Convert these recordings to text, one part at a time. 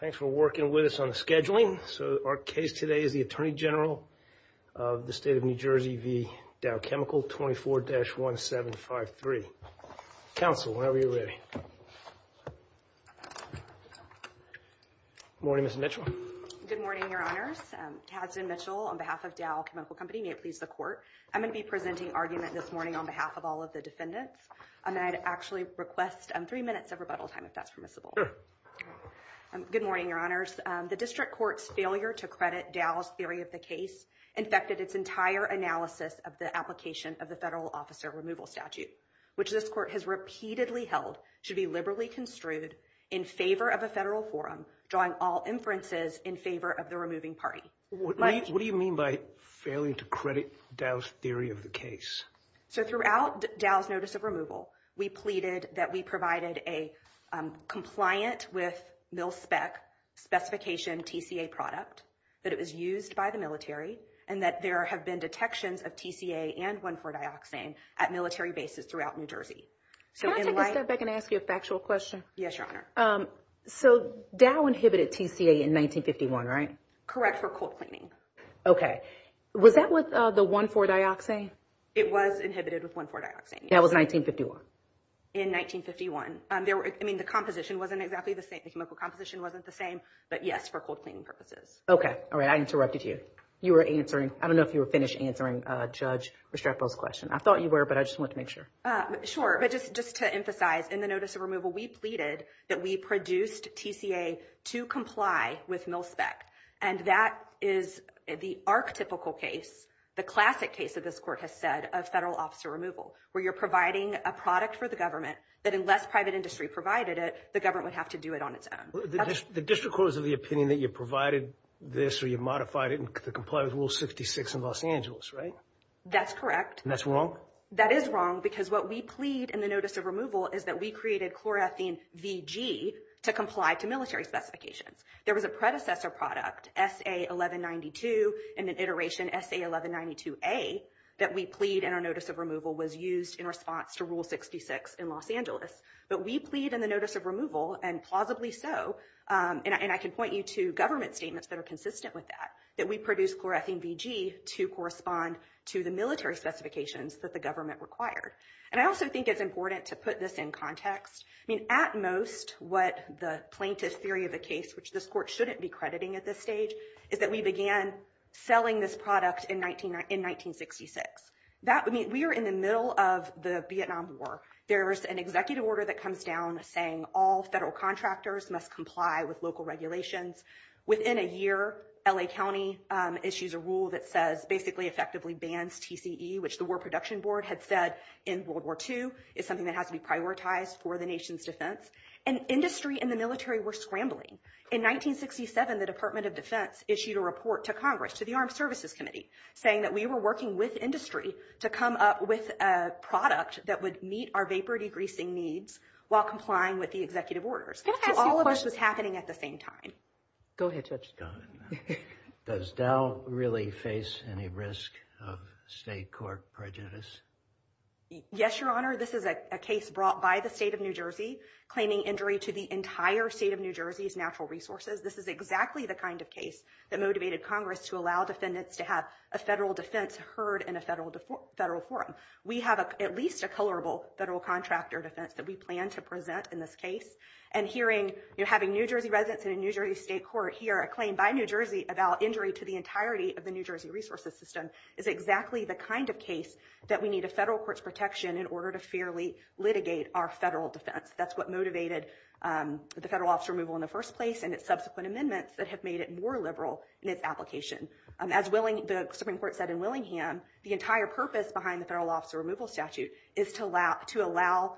Thanks for working with us on the scheduling. So, our case today is the Attorney General of the State of New Jersey v. Dow Chemical 24-1753. Counsel, whenever you're ready. Morning, Ms. Mitchell. Good morning, Your Honors. Tadzin Mitchell on behalf of Dow Chemical Company. May it please the court. I'm going to be presenting argument this morning on behalf of all of the defendants. I'd actually request three minutes of rebuttal time if that's permissible. Good morning, Your Honors. The district court's failure to credit Dow's theory of the case infected its entire analysis of the application of the federal officer removal statute, which this court has repeatedly held should be liberally construed in favor of a federal forum, drawing all inferences in favor of the removing party. What do you mean by failing to credit Dow's theory of the case? So, throughout Dow's notice of removal, we pleaded that we provided a compliant with Mil-Spec specification TCA product that it was used by the military and that there have been detections of TCA and 1,4-Dioxane at military bases throughout New Jersey. Can I take a step back and ask you a factual question? Yes, Your Honor. So, Dow inhibited TCA in 1951, right? Correct, for cold cleaning. Okay. Was that with the 1,4-Dioxane? It was inhibited with 1,4-Dioxane. That was 1951? In 1951. I mean, the composition wasn't exactly the same. The chemical composition wasn't the same, but yes, for cold cleaning purposes. Okay. All right, I interrupted you. You were answering, I don't know if you were finished answering Judge Restrepo's question. I thought you were, but I just want to make sure. Sure, but just to emphasize, in the notice of removal, we pleaded that we produced TCA to comply with Mil-Spec, and that is the archetypical case, the classic case that this court has said, of federal officer removal, where you're providing a product for the government, that unless private industry provided it, the government would have to do it on its own. The district court is of the opinion that you provided this, or you modified it, to comply with Rule 66 in Los Angeles, right? That's correct. That's wrong? That is wrong, because what we plead in the notice of removal, is that we created chloroethene VG to comply to military specifications. There was a predecessor product, SA-1192, and an iteration SA-1192A, that we plead in our removal, was used in response to Rule 66 in Los Angeles. But we plead in the notice of removal, and plausibly so, and I can point you to government statements that are consistent with that, that we produce chloroethene VG to correspond to the military specifications that the government required. And I also think it's important to put this in context. I mean, at most, what the plaintiff's theory of the case, which this court shouldn't be crediting at this stage, is that we began selling this product in 1966. That would mean we are in the middle of the Vietnam War. There's an executive order that comes down saying all federal contractors must comply with local regulations. Within a year, LA County issues a rule that says, basically effectively bans TCE, which the War Production Board had said in World War II, is something that has to be prioritized for the nation's defense. And industry and the military were scrambling. In 1967, the Department of Defense issued a report to Congress, to the Armed Services Committee, saying that we were working with industry to come up with a product that would meet our vapor degreasing needs while complying with the executive orders. So all of this was happening at the same time. Go ahead, Judge. Does Dow really face any risk of state court prejudice? Yes, Your Honor. This is a case brought by the state of New Jersey, claiming injury to the entire state of New Jersey's natural resources. This is exactly the kind of case that motivated Congress to allow defendants to have a federal defense heard in a federal forum. We have at least a colorable federal contractor defense that we plan to present in this case. And hearing, you know, having New Jersey residents in a New Jersey state court hear a claim by New Jersey about injury to the entirety of the New Jersey resources system, is exactly the kind of case that we need a federal court's protection in order to litigate our federal defense. That's what motivated the federal officer removal in the first place and its subsequent amendments that have made it more liberal in its application. As the Supreme Court said in Willingham, the entire purpose behind the federal officer removal statute is to allow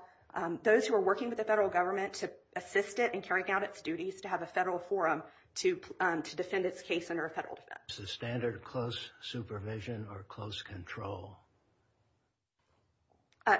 those who are working with the federal government to assist it in carrying out its duties to have a federal forum to defend its case under a federal defense. Is this a standard of close supervision or close control?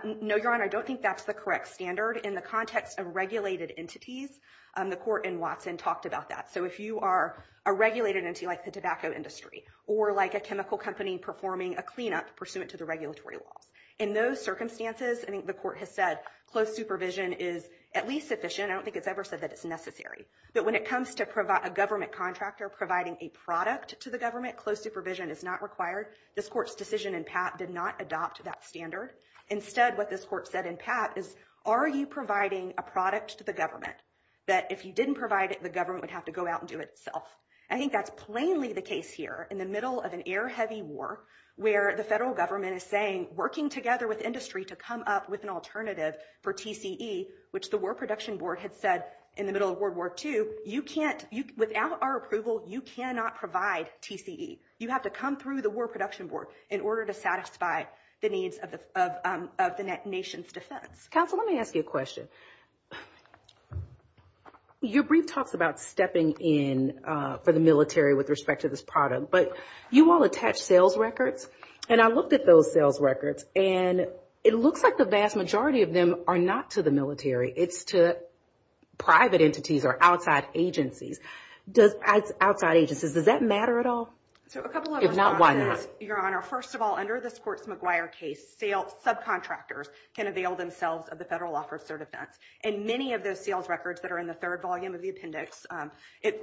No, Your Honor, I don't think that's the correct standard. In the context of regulated entities, the court in Watson talked about that. So if you are a regulated entity like the tobacco industry, or like a chemical company performing a cleanup pursuant to the regulatory laws, in those circumstances I think the court has said close supervision is at least sufficient. I don't think it's ever said that it's necessary. But when it comes to provide a government contractor providing a product to the government, close supervision is not required. This court's decision in Pat did not adopt that standard. Instead, what this court said in Pat is, are you providing a product to the government that if you didn't provide it, the government would have to go out and do it itself? I think that's plainly the case here in the middle of an air-heavy war where the federal government is saying, working together with industry to come up with an alternative for TCE, which the War Production Board had said in the middle of World War II, you can't, without our approval, you cannot provide TCE. You have to come through the War Production Board in order to satisfy the needs of the nation's defense. Counsel, let me ask you a question. Your brief talks about stepping in for the military with respect to this product, but you all attach sales records, and I looked at those sales records, and it looks like the vast majority of them are not to the military. It's to private entities or outside agencies. Outside agencies, does that matter at all? If not, why not? Your Honor, first of all, under this court's McGuire case, subcontractors can avail themselves of the federal offer of certificates, and many of those sales records that are in the third volume of the appendix,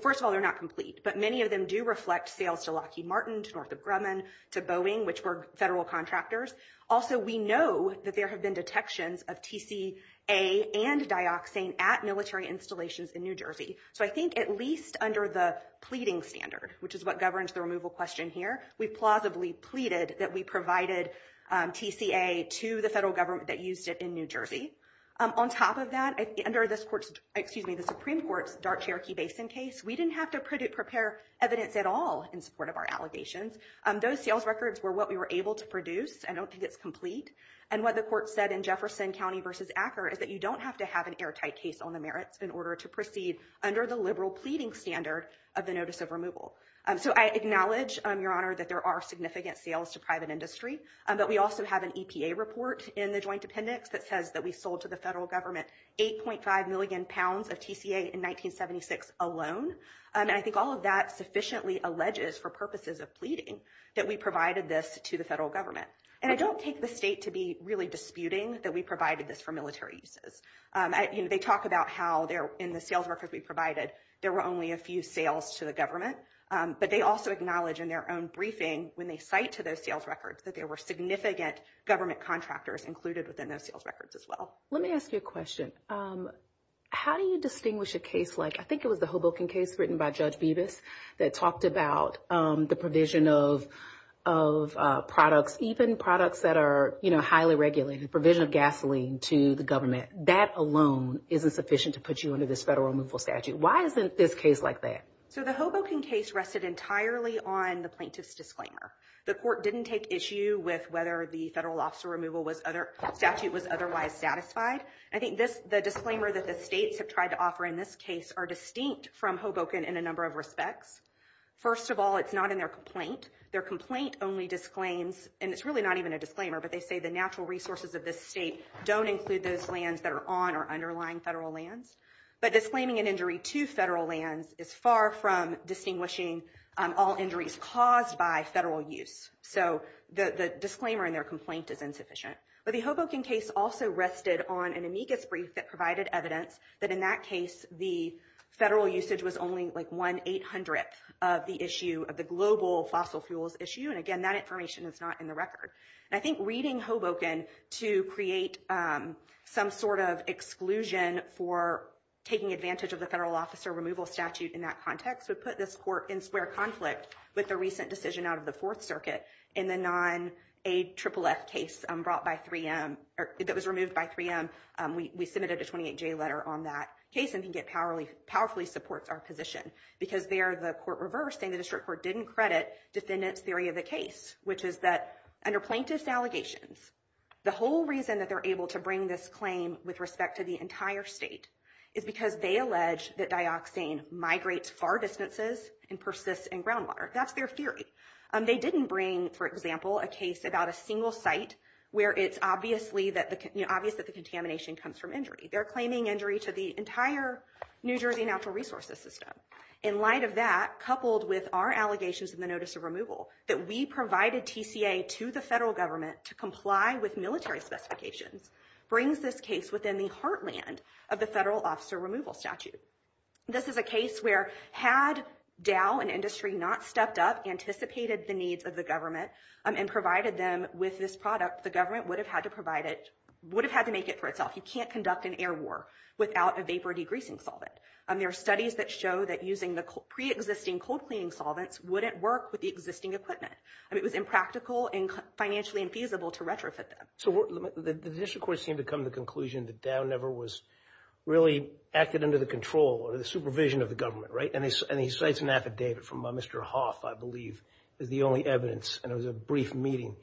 first of all, they're not complete, but many of them do reflect sales to Lockheed Martin, to Northrop Grumman, to Boeing, which were federal contractors. Also, we know that there have been detections of TCA and dioxane at military installations in New Jersey, so I think at least under the pleading standard, which is what governs the removal question here, we plausibly pleaded that we provided TCA to the federal government that used it in New Jersey. On top of that, under this court's, excuse me, the Supreme Court's Dart-Cherokee Basin case, we didn't have to prepare evidence at all in support of our allegations. Those sales records were what we were able to produce. I don't think it's complete, and what the court said in Jefferson County v. Acker is that you don't have to have an airtight case on the merits in order to proceed under the liberal pleading standard of the notice of removal. So I acknowledge, Your Honor, that there are significant sales to private industry, but we also have an EPA report in the joint appendix that says that we sold to the federal government 8.5 million pounds of TCA in 1976 alone, and I think all of that sufficiently alleges, for purposes of pleading, that we provided this to the federal government. And I don't take the state to be really disputing that we provided this for military uses. You know, they talk about how in the sales records we provided there were only a few sales to the government, but they also acknowledge in their own briefing when they cite to those sales records that there were significant government contractors included within those sales records as well. Let me ask you a question. How do you distinguish a case like, I think it was the Hoboken case written by Judge Bevis, that talked about the provision of products, even products that are, you know, highly regulated, provision of gasoline to the government. That alone isn't sufficient to put you under this federal removal statute. Why isn't this case like that? So the Hoboken case rested entirely on the plaintiff's disclaimer. The court didn't take issue with whether the federal officer removal statute was otherwise satisfied. I think the disclaimer that the states have tried to offer in this are distinct from Hoboken in a number of respects. First of all, it's not in their complaint. Their complaint only disclaims, and it's really not even a disclaimer, but they say the natural resources of this state don't include those lands that are on or underlying federal lands. But disclaiming an injury to federal lands is far from distinguishing all injuries caused by federal use. So the disclaimer in their complaint is insufficient. But the Hoboken case also rested on an amicus brief that provided evidence that in that case the federal usage was only like 1 800th of the issue of the global fossil fuels issue. And again, that information is not in the record. And I think reading Hoboken to create some sort of exclusion for taking advantage of the federal officer removal statute in that context would put this court in square conflict with the recent decision out of the Fourth Circuit in the non-AFFF case brought by 3M, or that was removed by 3M. We submitted a 28-J letter on that case, and I think it powerfully supports our position. Because there, the court reversed, saying the district court didn't credit defendants' theory of the case, which is that under plaintiff's allegations, the whole reason that they're able to bring this claim with respect to the entire state is because they allege that dioxane migrates far distances and persists in groundwater. That's their theory. They didn't bring, for example, a case about a single site where it's obvious that the contamination comes from They're claiming injury to the entire New Jersey natural resources system. In light of that, coupled with our allegations in the notice of removal, that we provided TCA to the federal government to comply with military specifications brings this case within the heartland of the federal officer removal statute. This is a case where had Dow and industry not stepped up, anticipated the needs of the government, and provided them with this product, the government would have had to provide it, would have had to make it for itself. You can't conduct an air war without a vapor degreasing solvent. There are studies that show that using the pre-existing cold cleaning solvents wouldn't work with the existing equipment. It was impractical and financially infeasible to retrofit them. So the district court seemed to come to the conclusion that Dow never was really acted under the control or the supervision of the government, right? And he cites an affidavit from Mr. Hoff, I believe, as the only evidence, and it was a brief meeting.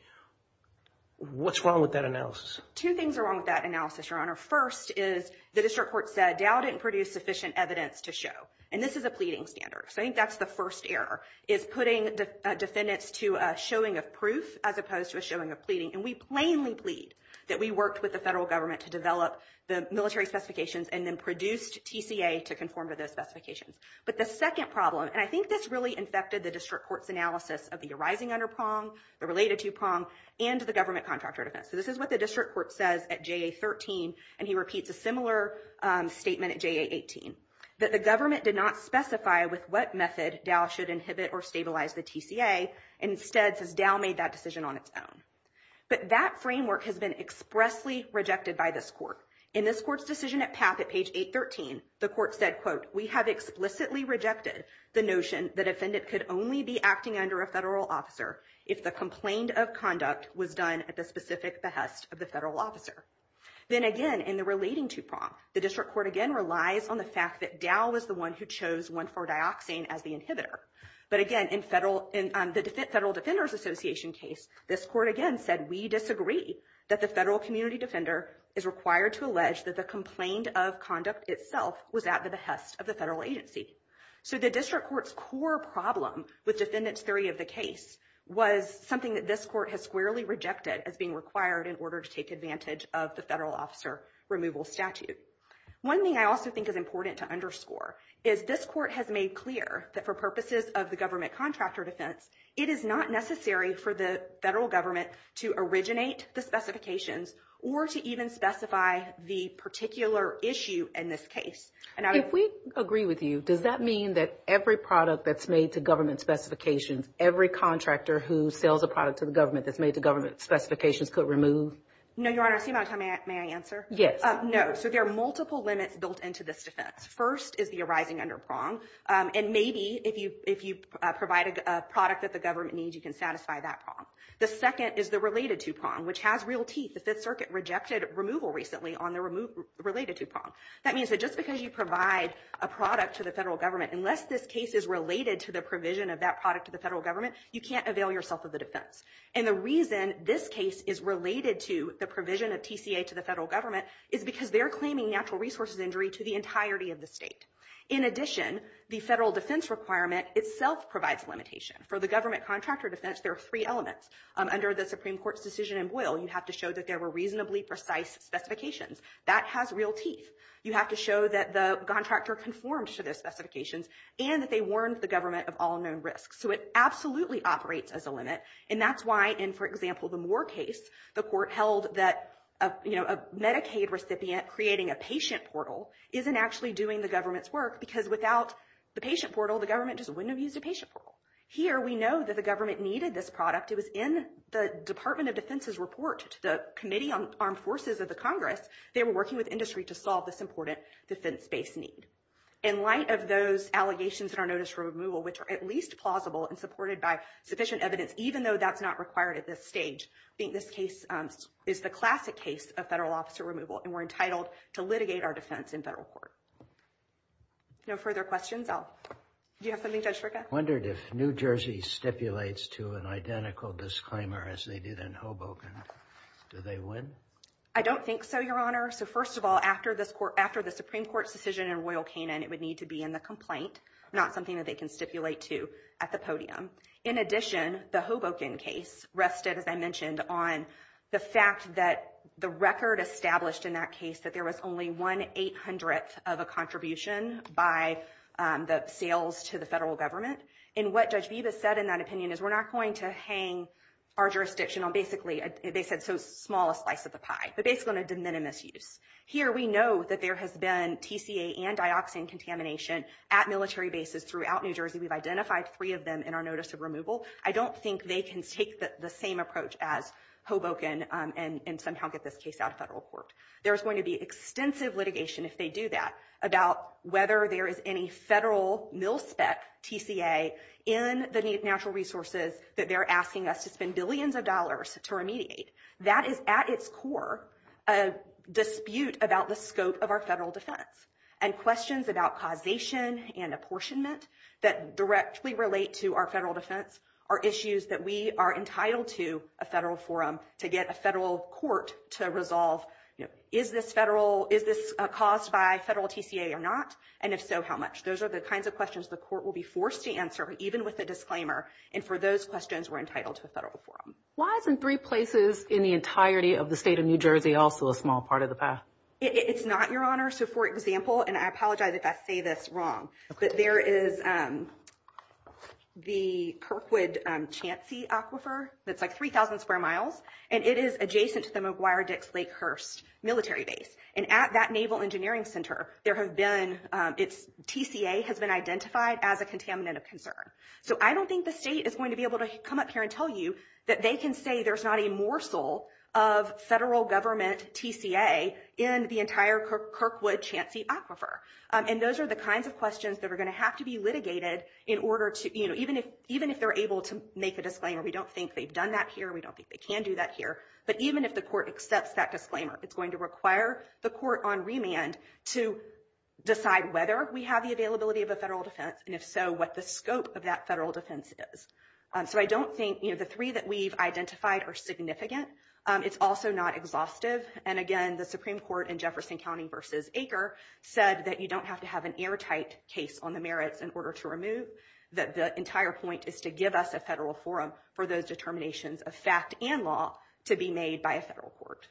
What's wrong with that analysis? Two things are wrong with that analysis, Your Honor. First is the district court said Dow didn't produce sufficient evidence to show, and this is a pleading standard. So I think that's the first error, is putting defendants to a showing of proof as opposed to a showing of pleading. And we plainly plead that we worked with the federal government to develop the military specifications and then produced TCA to conform to those specifications. But the second problem, and I think this really infected the district court's analysis of the arising under PRONG, the related to PRONG, and the government contractor defense. So this is what the district court says at JA-13, and he repeats a similar statement at JA-18, that the government did not specify with what method Dow should inhibit or stabilize the TCA. Instead, says Dow made that decision on its own. But that framework has been expressly rejected by this court. In this court's decision at PAPP at page 813, the court said, quote, we have explicitly rejected the notion that a defendant could only be acting under a federal officer if the complaint of conduct was done at the specific behest of the federal officer. Then again, in the relating to PRONG, the district court again relies on the fact that Dow was the one who chose 1,4-Dioxane as the inhibitor. But again, in the Federal Defenders Association case, this court again said, we disagree that the federal community defender is required to allege that the complaint of conduct itself was at the behest of the federal agency. So the district court's core problem with defendant's theory of the case was something that this court has squarely rejected as being required in order to take advantage of the federal officer removal statute. One thing I also think is important to underscore is this court has made clear that for purposes of the government contractor defense, it is not necessary for the federal government to originate the specifications or to even specify the particular issue in this case. If we agree with you, does that mean that every product that's made to government specifications, every contractor who sells a product to the government that's made to government specifications could remove? No, Your Honor. May I answer? Yes. No. So there are multiple limits built into this defense. First is the arising under PRONG. And maybe if you provide a product that the government needs, you can satisfy that PRONG. The second is the related to PRONG, which has real teeth. The Fifth Circuit rejected removal recently on the related to PRONG. That means that just because you provide a product to the federal government, unless this case is related to the provision of that product to the federal government, you can't avail yourself of the defense. And the reason this case is related to the provision of TCA to the federal government is because they're claiming natural resources injury to the entirety of the state. In addition, the federal defense requirement itself provides limitation. For the government contractor defense, there are three elements. Under the Supreme Court's decision in Boyle, you have to show that there were reasonably precise specifications. That has real teeth. You have to show that the contractor conformed to those specifications and that they warned the government of all known risks. So it absolutely operates as a limit. And that's why in, for example, the Moore case, the court held that, you know, a Medicaid recipient creating a patient portal isn't actually doing the government's work because without the patient portal, the government just wouldn't have used a patient portal. Here, we know that the government needed this product. It was in the Department of Defense's report to the Committee on Armed Forces of the Congress. They were working with industry to solve this important defense-based need. In light of those allegations in our notice for removal, which are at least plausible and supported by sufficient evidence, even though that's not required at this stage, I think this case is the classic case of federal officer removal. And we're entitled to litigate our defense in federal court. No further questions? Do you have something, Judge Fricke? Wondered if New Jersey stipulates to an identical disclaimer as they did in Hoboken. Do they win? I don't think so, Your Honor. So first of all, after the Supreme Court's decision in Royal Canin, it would need to be in the complaint, not something that they can stipulate to at the podium. In addition, the Hoboken case rested, as I mentioned, on the fact that the record established in that case that there was only one eight hundredth of a contribution by the sales to the federal government. And what Judge Vivas said in that opinion is we're not going to hang our jurisdiction on basically, they said so small a slice of the pie, but basically on a de minimis use. Here, we know that there has been TCA and dioxin contamination at military bases throughout New Jersey. We've identified three of them in our notice of removal. I don't think they can take the same approach as Hoboken and somehow get this case out of federal court. There's going to be extensive litigation if they do that about whether there is any federal mil-spec TCA in the natural resources that they're asking us to spend billions of dollars to remediate. That is, at its core, a dispute about the scope of our federal defense. And questions about causation and apportionment that directly relate to our federal defense are issues that we are entitled to a federal forum to get a federal court to resolve. Is this caused by federal TCA or not? And if so, how much? Those are the kinds of questions the court will be forced to answer, even with a disclaimer. And for those questions, we're entitled to a federal forum. Why isn't three places in the entirety of the state of New Jersey also a small part of the pie? It's not, Your Honor. So, for example, and I apologize if I say this wrong, but there is the Kirkwood-Chancey Aquifer that's like 3,000 square miles, and it is adjacent to the McGuire-Dix-Lakehurst military base. And at that Naval Engineering Center, there have been, its TCA has been identified as a contaminant of concern. So I don't think the state is going to be able to come up here and tell you that they can say there's not a morsel of federal government TCA in the entire Kirkwood-Chancey Aquifer. And those are the kinds of questions that are going to have to be litigated in order to, even if they're able to make a disclaimer, we don't think they've done that here. We don't think they can do that here. But even if the court accepts that disclaimer, it's going to require the court on remand to decide whether we have the availability of a federal defense, and if so, what the scope of that federal defense is. So I don't think the three that we've identified are significant. It's also not exhaustive. And again, the Supreme Court in Jefferson County v. Acre said that you don't have to have an airtight case on the merits in order to remove, that the entire point is to give us a federal forum for those determinations of fact and law to be made by a federal court.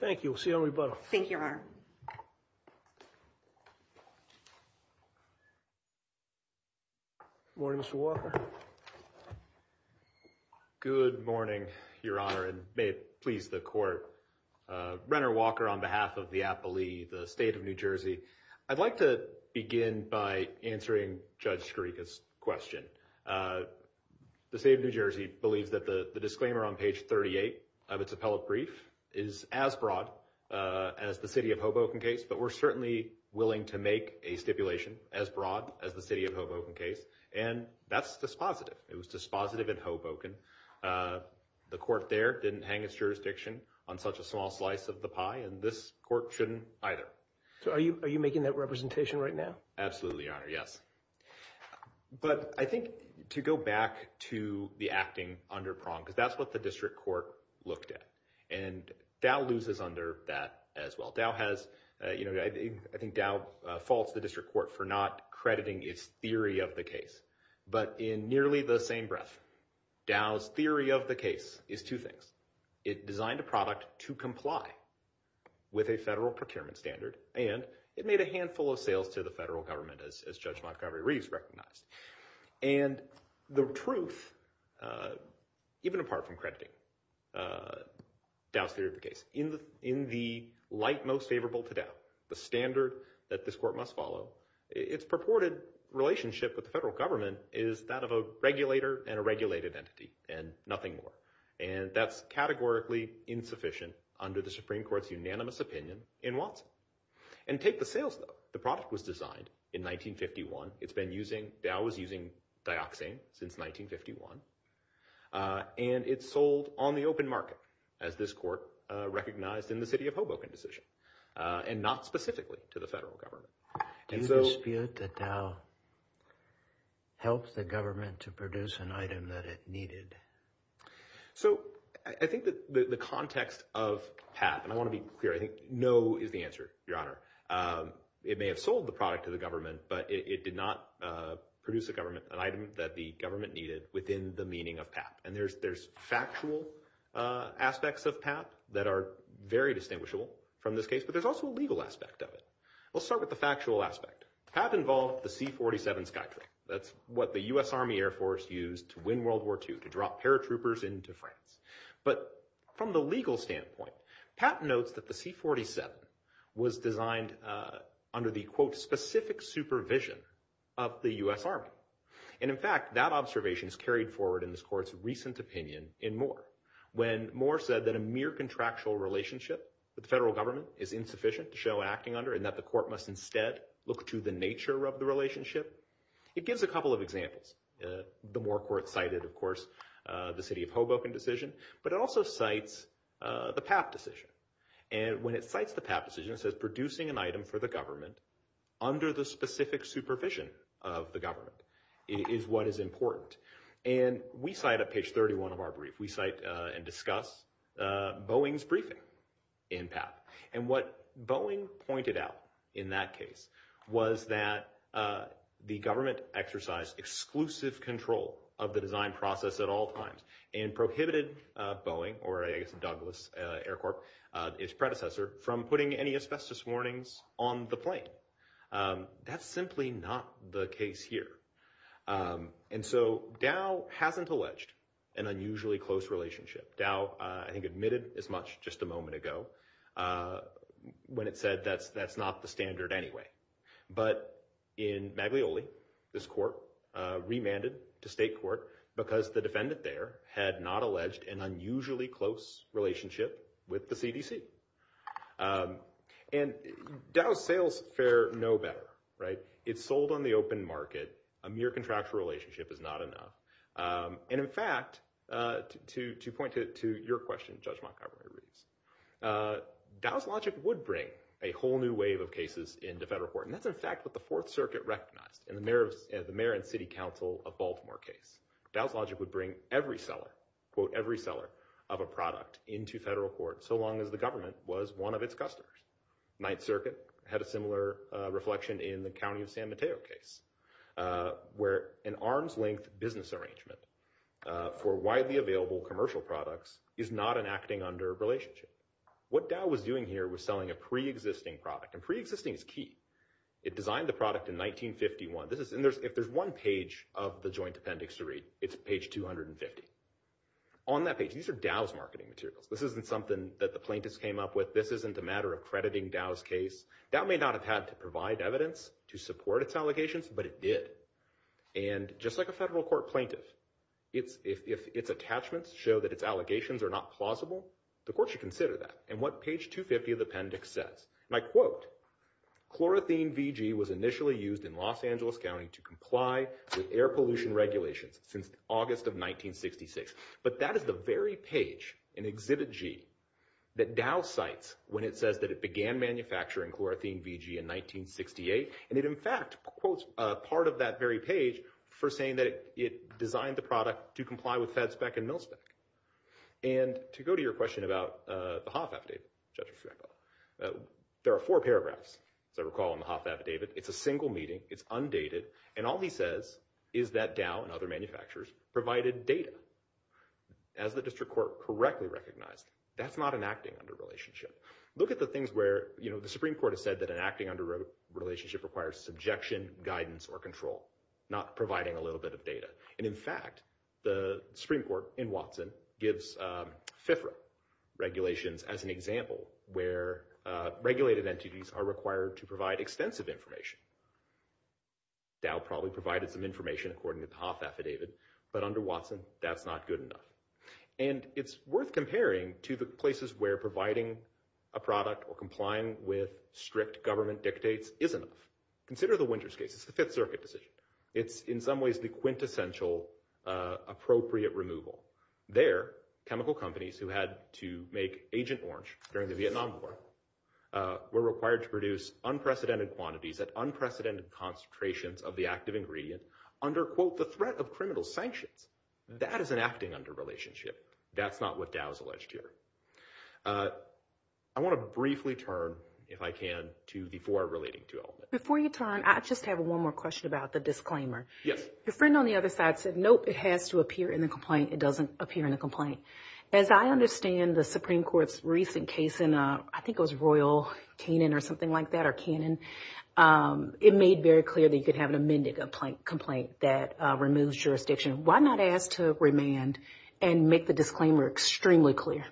Thank you. We'll see you on rebuttal. Thank you, Your Honor. Good morning, Mr. Walker. Good morning, Your Honor, and may it please the court. Brenner Walker on behalf of the Appalee, the State of New Jersey. I'd like to begin by answering Judge Skirica's question. The State of New Jersey believes that the disclaimer on page 38 of its appellate brief is as broad as the city of Hoboken case, but we're certainly willing to make a stipulation as broad as the city of Hoboken case. And that's the state of New Jersey. It was dispositive. It was dispositive in Hoboken. The court there didn't hang its jurisdiction on such a small slice of the pie, and this court shouldn't either. So are you making that representation right now? Absolutely, Your Honor, yes. But I think to go back to the acting under prong, because that's what the district court looked at. And Dow loses under that as well. Dow has, you know, I think Dow faults the district court for not crediting its theory of the case. But in nearly the same breath, Dow's theory of the case is two things. It designed a product to comply with a federal procurement standard, and it made a handful of sales to the federal government, as Judge Montgomery Reeves recognized. And the truth, even apart from crediting Dow's theory of the case, in the light most favorable to Dow, the standard that this court must follow, its purported relationship with the federal government is that of a regulator and a regulated entity, and nothing more. And that's categorically insufficient under the Supreme Court's unanimous opinion in Watson. And take the sales, though. The product was designed in 1951. It's been using—Dow was using dioxane since 1951. And it sold on the open market, as this court recognized in the city Hoboken decision, and not specifically to the federal government. Do you dispute that Dow helped the government to produce an item that it needed? So I think that the context of PAP—and I want to be clear, I think no is the answer, Your Honor—it may have sold the product to the government, but it did not produce a government—an item that the government needed within the meaning of PAP. And there's factual aspects of PAP that are very distinguishable from this case, but there's also a legal aspect of it. Let's start with the factual aspect. PAP involved the C-47 Skytrain. That's what the U.S. Army Air Force used to win World War II, to drop paratroopers into France. But from the legal standpoint, PAP notes that the C-47 was designed under the, quote, specific supervision of the U.S. Army. And in fact, that observation is carried forward in this court's recent opinion in Moore. When Moore said that a mere contractual relationship with the federal government is insufficient to show acting under, and that the court must instead look to the nature of the relationship, it gives a couple of examples. The Moore court cited, of course, the city of Hoboken decision, but it also cites the PAP decision. And when it cites the PAP decision, it says producing an item for the government under the specific supervision of the government is what is important. And we cite at page 31 of our brief, we cite and discuss Boeing's briefing in PAP. And what Boeing pointed out in that case was that the government exercised exclusive control of the design process at all times, and prohibited Boeing, or I guess Douglas Air Corp., its predecessor, from putting any asbestos warnings on the plane. That's simply not the case here. And so Dow hasn't alleged an unusually close relationship. Dow, I think, admitted as much just a moment ago when it said that's not the standard anyway. But in Maglioli, this court remanded to state court because the defendant there had not alleged an unusually close relationship with the CDC. And Dow's sales fair know better. It's sold on the open market. A mere contractual relationship is not enough. And in fact, to point to your question, Judge Montgomery-Reeves, Dow's logic would bring a whole new wave of cases into federal court. And that's, in fact, what the Fourth Circuit recognized in the Mayor and City Council of Baltimore case. Dow's logic would bring every seller, quote, every seller of a product into federal court, so long as the government was one of its customers. Ninth Circuit had a similar reflection in the County of San Mateo case, where an arm's length business arrangement for widely available commercial products is not an acting under relationship. What Dow was doing here was selling a pre-existing product. And pre-existing is key. It designed the product in 1951. If there's one page of the joint appendix to read, it's page 250. On that page, these are Dow's marketing materials. This isn't something that the plaintiffs came up with. This isn't a matter of crediting Dow's case. Dow may not have had to provide evidence to support its allegations, but it did. And just like a federal court plaintiff, if its attachments show that its allegations are not plausible, the court should consider that. And what page 250 of the appendix says? And I quote, chlorothene VG was initially used in Los Angeles County to comply with air pollution regulations since August of 1966. But that is the very page in Exhibit G that Dow cites when it says that it began manufacturing chlorothene VG in 1968. And it, in fact, quotes part of that very page for saying that it designed the product to comply with Fed spec and And to go to your question about the Hoff affidavit, there are four paragraphs, as I recall, in the Hoff affidavit. It's a single meeting. It's undated. And all he says is that Dow and other manufacturers provided data. As the district court correctly recognized, that's not an acting under relationship. Look at the things where the Supreme Court has said that an acting under relationship requires subjection, guidance, or control, not providing a little bit of data. And in fact, the Supreme Court in Watson gives FIFRA regulations as an example, where regulated entities are required to provide extensive information. Dow probably provided some information according to the Hoff affidavit. But under Watson, that's not good enough. And it's worth comparing to the places where providing a product or complying with strict government dictates is enough. Consider the Winters case. It's the Fifth Circuit decision. It's in some ways the quintessential appropriate removal. There, chemical companies who had to make Agent Orange during the Vietnam War were required to produce unprecedented quantities at unprecedented concentrations of the active ingredient under, quote, the threat of criminal sanctions. That is an acting under relationship. That's not what Dow's alleged here. I want to briefly turn, if I can, to the four relating to element. Before you turn, I just have one more question about the disclaimer. Yes. Your friend on the other side said, nope, it has to appear in the complaint. It doesn't appear in the complaint. As I understand the Supreme Court's recent case in, I think it was Royal Canin or something like that, or Canin, it made very clear that you could have an amended complaint that removes jurisdiction. Why not ask to remand and make the disclaimer extremely clear?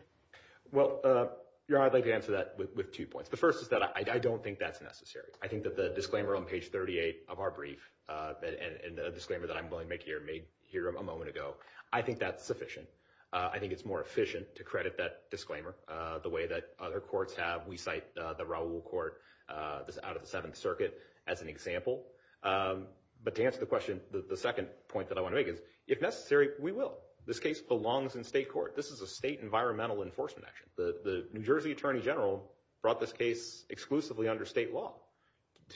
Well, I'd like to answer that with two points. The first is that I don't think that's necessary. The disclaimer on page 38 of our brief and the disclaimer that I'm going to make here, made here a moment ago, I think that's sufficient. I think it's more efficient to credit that disclaimer the way that other courts have. We cite the Raul Court out of the Seventh Circuit as an example. But to answer the question, the second point that I want to make is, if necessary, we will. This case belongs in state court. This is a state environmental enforcement action. The New Jersey Attorney General brought this case exclusively under state law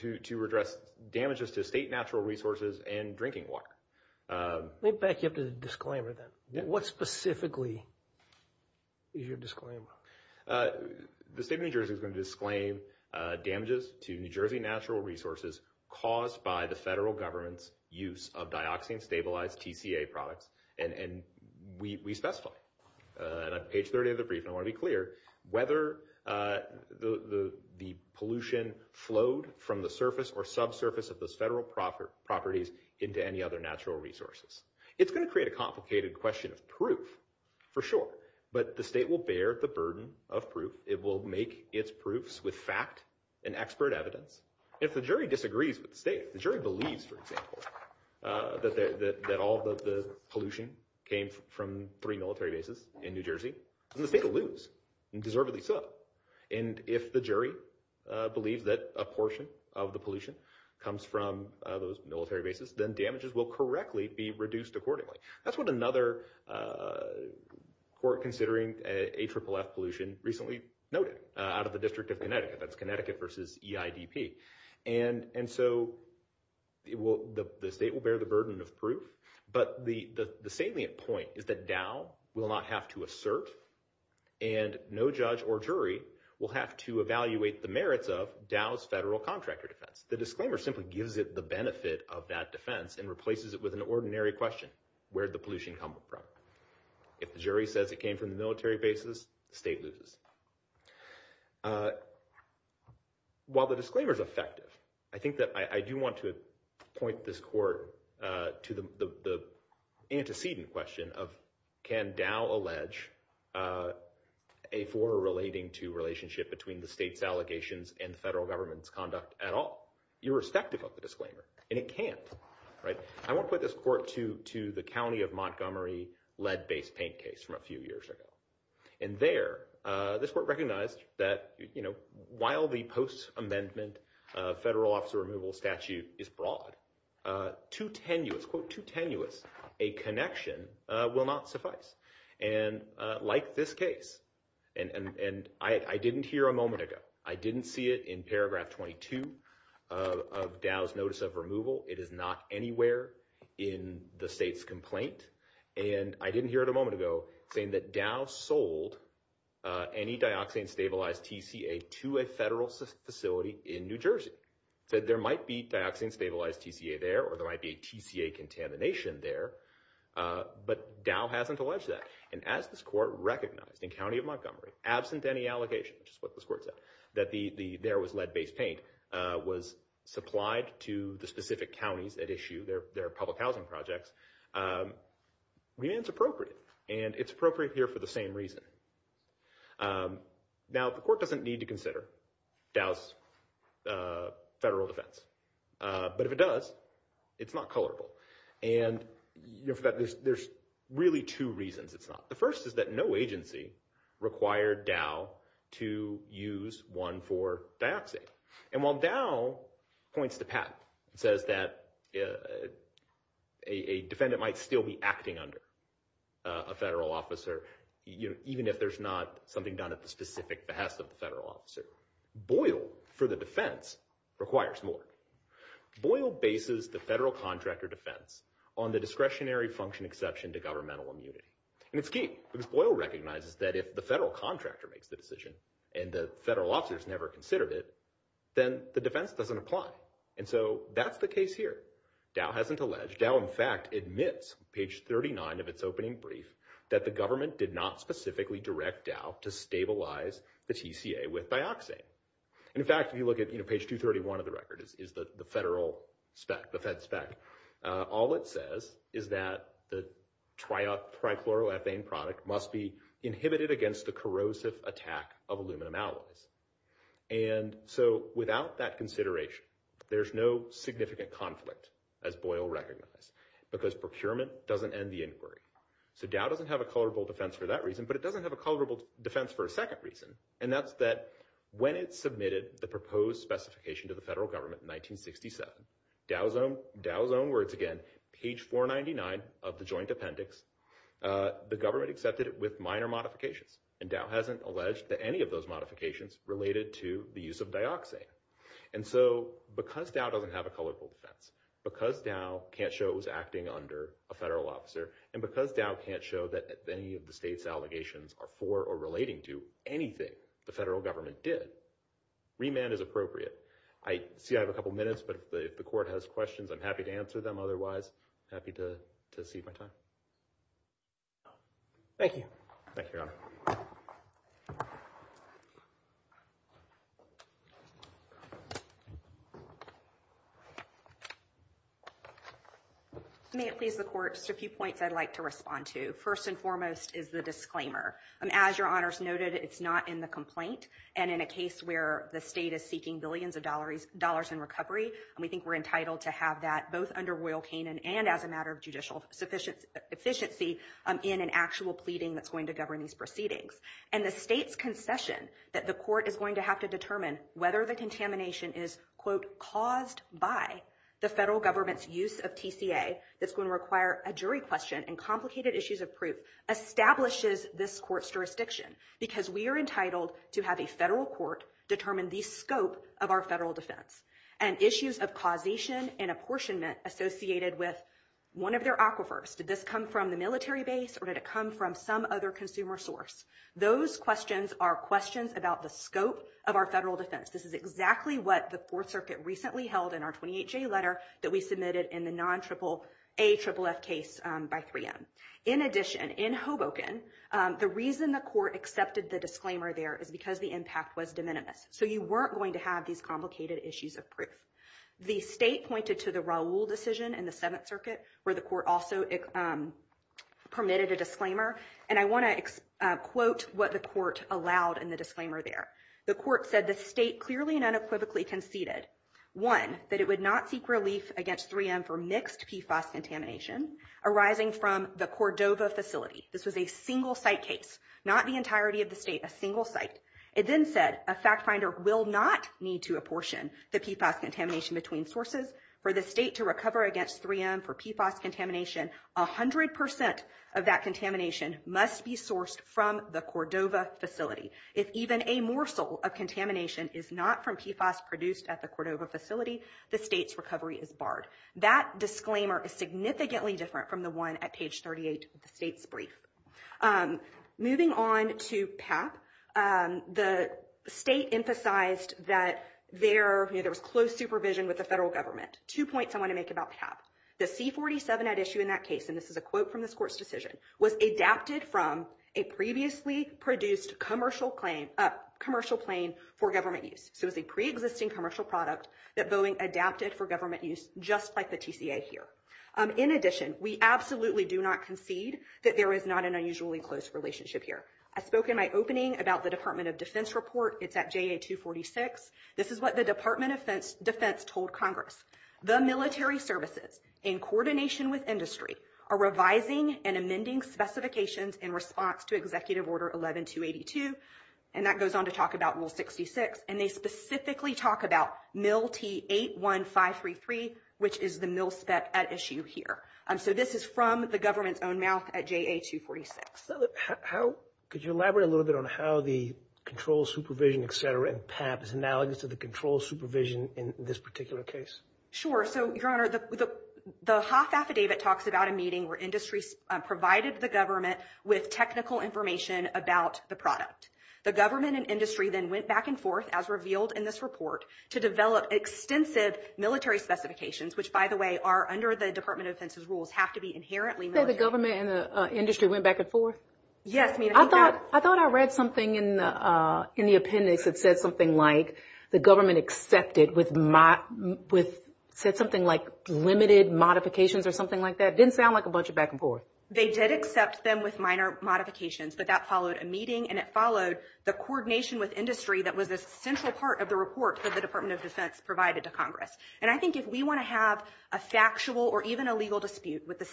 to address damages to state natural resources and drinking water. Let me back you up to the disclaimer then. What specifically is your disclaimer? The state of New Jersey is going to disclaim damages to New Jersey natural resources caused by the federal government's use of dioxin-stabilized TCA products, and we specify on page 38 of the brief, and I want to be clear, whether the pollution flowed from the surface or subsurface of those federal properties into any other natural resources. It's going to create a complicated question of proof, for sure, but the state will bear the burden of proof. It will make its proofs with fact and expert evidence. If the jury disagrees with the state, the jury believes, for example, that all of the pollution came from three military bases in New Jersey, then the state will lose, and deservedly so. And if the jury believes that a portion of the pollution comes from those military bases, then damages will correctly be reduced accordingly. That's what another court considering AFFF pollution recently noted out of the District of Connecticut. That's Connecticut versus EIDP. And so the state will bear the burden of proof, but the salient point is that Dow will not have to assert, and no judge or jury will have to evaluate the merits of Dow's federal contractor defense. The disclaimer simply gives it the benefit of that defense and replaces it with an ordinary question, where'd the pollution come from? If the jury says it came from the military bases, the state loses. While the disclaimer is effective, I think that I do want to point this court to the antecedent question of, can Dow allege a former relating to relationship between the state's allegations and the federal government's conduct at all, irrespective of the disclaimer? And it can't. I want to put this court to the County of Montgomery lead-based paint case from a few years ago. And there, this court recognized that while the post-amendment federal officer removal statute is broad, quote, too tenuous, a connection will not suffice. And like this case, and I didn't hear a moment ago, I didn't see it in paragraph 22 of Dow's notice of removal. It is not anywhere in the state's complaint. And I didn't hear it a moment ago saying that Dow sold any dioxane stabilized TCA to a federal facility in New Jersey, said there might be dioxane stabilized TCA there, or there might be a TCA contamination there. But Dow hasn't alleged that. And as this recognized in County of Montgomery, absent any allegation, which is what this court said, that there was lead-based paint was supplied to the specific counties that issue their public housing projects, remains appropriate. And it's appropriate here for the same reason. Now, the court doesn't need to consider Dow's federal defense. But if it does, it's not colorable. And there's really two reasons it's not. The first is that no agency required Dow to use one for dioxane. And while Dow points to patent and says that a defendant might still be acting under a federal officer, even if there's not something done at the the federal contractor defense on the discretionary function exception to governmental immunity. And it's key, because Boyle recognizes that if the federal contractor makes the decision and the federal officers never considered it, then the defense doesn't apply. And so that's the case here. Dow hasn't alleged. Dow, in fact, admits, page 39 of its opening brief, that the government did not specifically direct Dow to stabilize the TCA with dioxane. In fact, if you look at page 231 of the record, is the federal spec, the fed spec, all it says is that the trichloroethane product must be inhibited against the corrosive attack of aluminum alloys. And so without that consideration, there's no significant conflict, as Boyle recognized, because procurement doesn't end the inquiry. So Dow doesn't have a colorable defense for that reason, but it doesn't have a colorable defense for a second reason. And that's that when it submitted the proposed specification to the federal government in 1967, Dow's own words again, page 499 of the joint appendix, the government accepted it with minor modifications. And Dow hasn't alleged to any of those modifications related to the use of dioxane. And so because Dow doesn't have a colorable defense, because Dow can't show it was acting under a federal officer, and because Dow can't show that any of the state's allegations are for or relating to anything the federal government did, remand is appropriate. I see I have a couple minutes, but if the court has questions, I'm happy to answer them. Otherwise, I'm happy to cede my time. Thank you. Thank you, Your Honor. May it please the court, just a few points I'd like to respond to. First and foremost is the disclaimer. As Your Honor's noted, it's not in the complaint. And in a case where the state is seeking billions of dollars in recovery, we think we're entitled to have that both under Royal Canin and as a matter of judicial efficiency in an actual pleading that's going to govern these proceedings. And the state's concession that the court is going to have to determine whether the contamination is, quote, caused by the federal government's use of TCA, that's going to a jury question and complicated issues of proof, establishes this court's jurisdiction, because we are entitled to have a federal court determine the scope of our federal defense. And issues of causation and apportionment associated with one of their aquifers, did this come from the military base or did it come from some other consumer source? Those questions are questions about the scope of our federal defense. This is exactly what the recently held in our 28-J letter that we submitted in the non-AAFF case by 3M. In addition, in Hoboken, the reason the court accepted the disclaimer there is because the impact was de minimis. So you weren't going to have these complicated issues of proof. The state pointed to the Raul decision in the Seventh Circuit, where the court also permitted a disclaimer. And I want to quote what the court allowed in the disclaimer there. The court said the state clearly and unequivocally conceded, one, that it would not seek relief against 3M for mixed PFAS contamination, arising from the Cordova facility. This was a single site case, not the entirety of the state, a single site. It then said a fact finder will not need to apportion the PFAS contamination between sources for the state to recover against 3M for PFAS contamination. A hundred percent of that contamination must be sourced from the Cordova facility. If even a morsel of contamination is not from PFAS produced at the Cordova facility, the state's recovery is barred. That disclaimer is significantly different from the one at page 38 of the state's brief. Moving on to PAP, the state emphasized that there was close supervision with the federal government. Two points I want to make about PAP. The C47 at issue in that case, and this is a quote from this court's decision, was adapted from a previously produced commercial plane for government use. So it was a preexisting commercial product that Boeing adapted for government use, just like the TCA here. In addition, we absolutely do not concede that there is not an unusually close relationship here. I spoke in my opening about the Department of Defense report. It's at JA246. This is what the Department of Defense told Congress. The military services, in coordination with industry, are revising and amending specifications in response to Executive Order 11-282. And that goes on to talk about Rule 66. And they specifically talk about MIL-T-81533, which is the MIL-SPEC at issue here. So this is from the government's own mouth at JA246. Could you elaborate a little bit on how the control, supervision, et cetera, in PAP is analogous to the control supervision in this particular case? Sure. So, Your Honor, the Hoff Affidavit talks about a meeting where industry provided the government with technical information about the product. The government and industry then went back and forth, as revealed in this report, to develop extensive military specifications, which, by the way, are under the Department of Defense's rules, have to be inherently military. The government and the industry went back and forth? Yes, Your Honor. I thought I read something in the appendix that said something like the government accepted with said something like limited modifications or something like that. It didn't sound like a bunch of back and forth. They did accept them with minor modifications, but that followed a meeting, and it followed the coordination with industry that was a central part of the report that the Department of Defense provided to Congress. And I think if we want to have a factual or even a legal dispute with the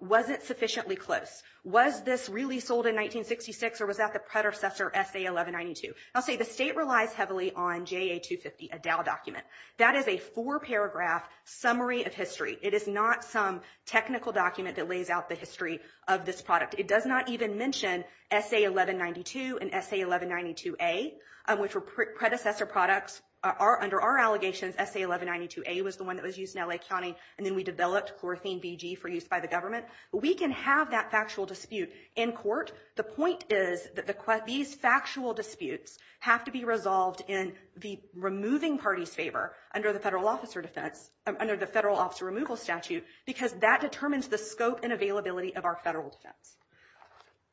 wasn't sufficiently close. Was this really sold in 1966, or was that the predecessor SA-1192? I'll say the state relies heavily on JA-250, a Dow document. That is a four-paragraph summary of history. It is not some technical document that lays out the history of this product. It does not even mention SA-1192 and SA-1192A, which were predecessor products. Under our allegations, SA-1192A was the one that was used in L.A. County, and then we developed chlorothene VG for use by the government. We can have that factual dispute in court. The point is that these factual disputes have to be resolved in the removing party's favor under the federal officer defense, under the federal officer removal statute, because that determines the scope and availability of our federal defense.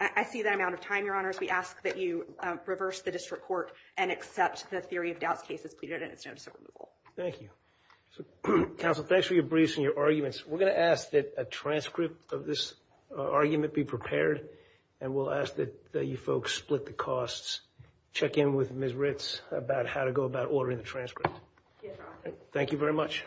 I see that I'm out of time, Your Honors. We ask that you reverse the district court and accept the theory of doubts case as pleaded in its notice Thank you. Counsel, thanks for your briefs and your arguments. We're going to ask that a transcript of this argument be prepared, and we'll ask that you folks split the costs, check in with Ms. Ritz about how to go about ordering the transcript. Thank you very much.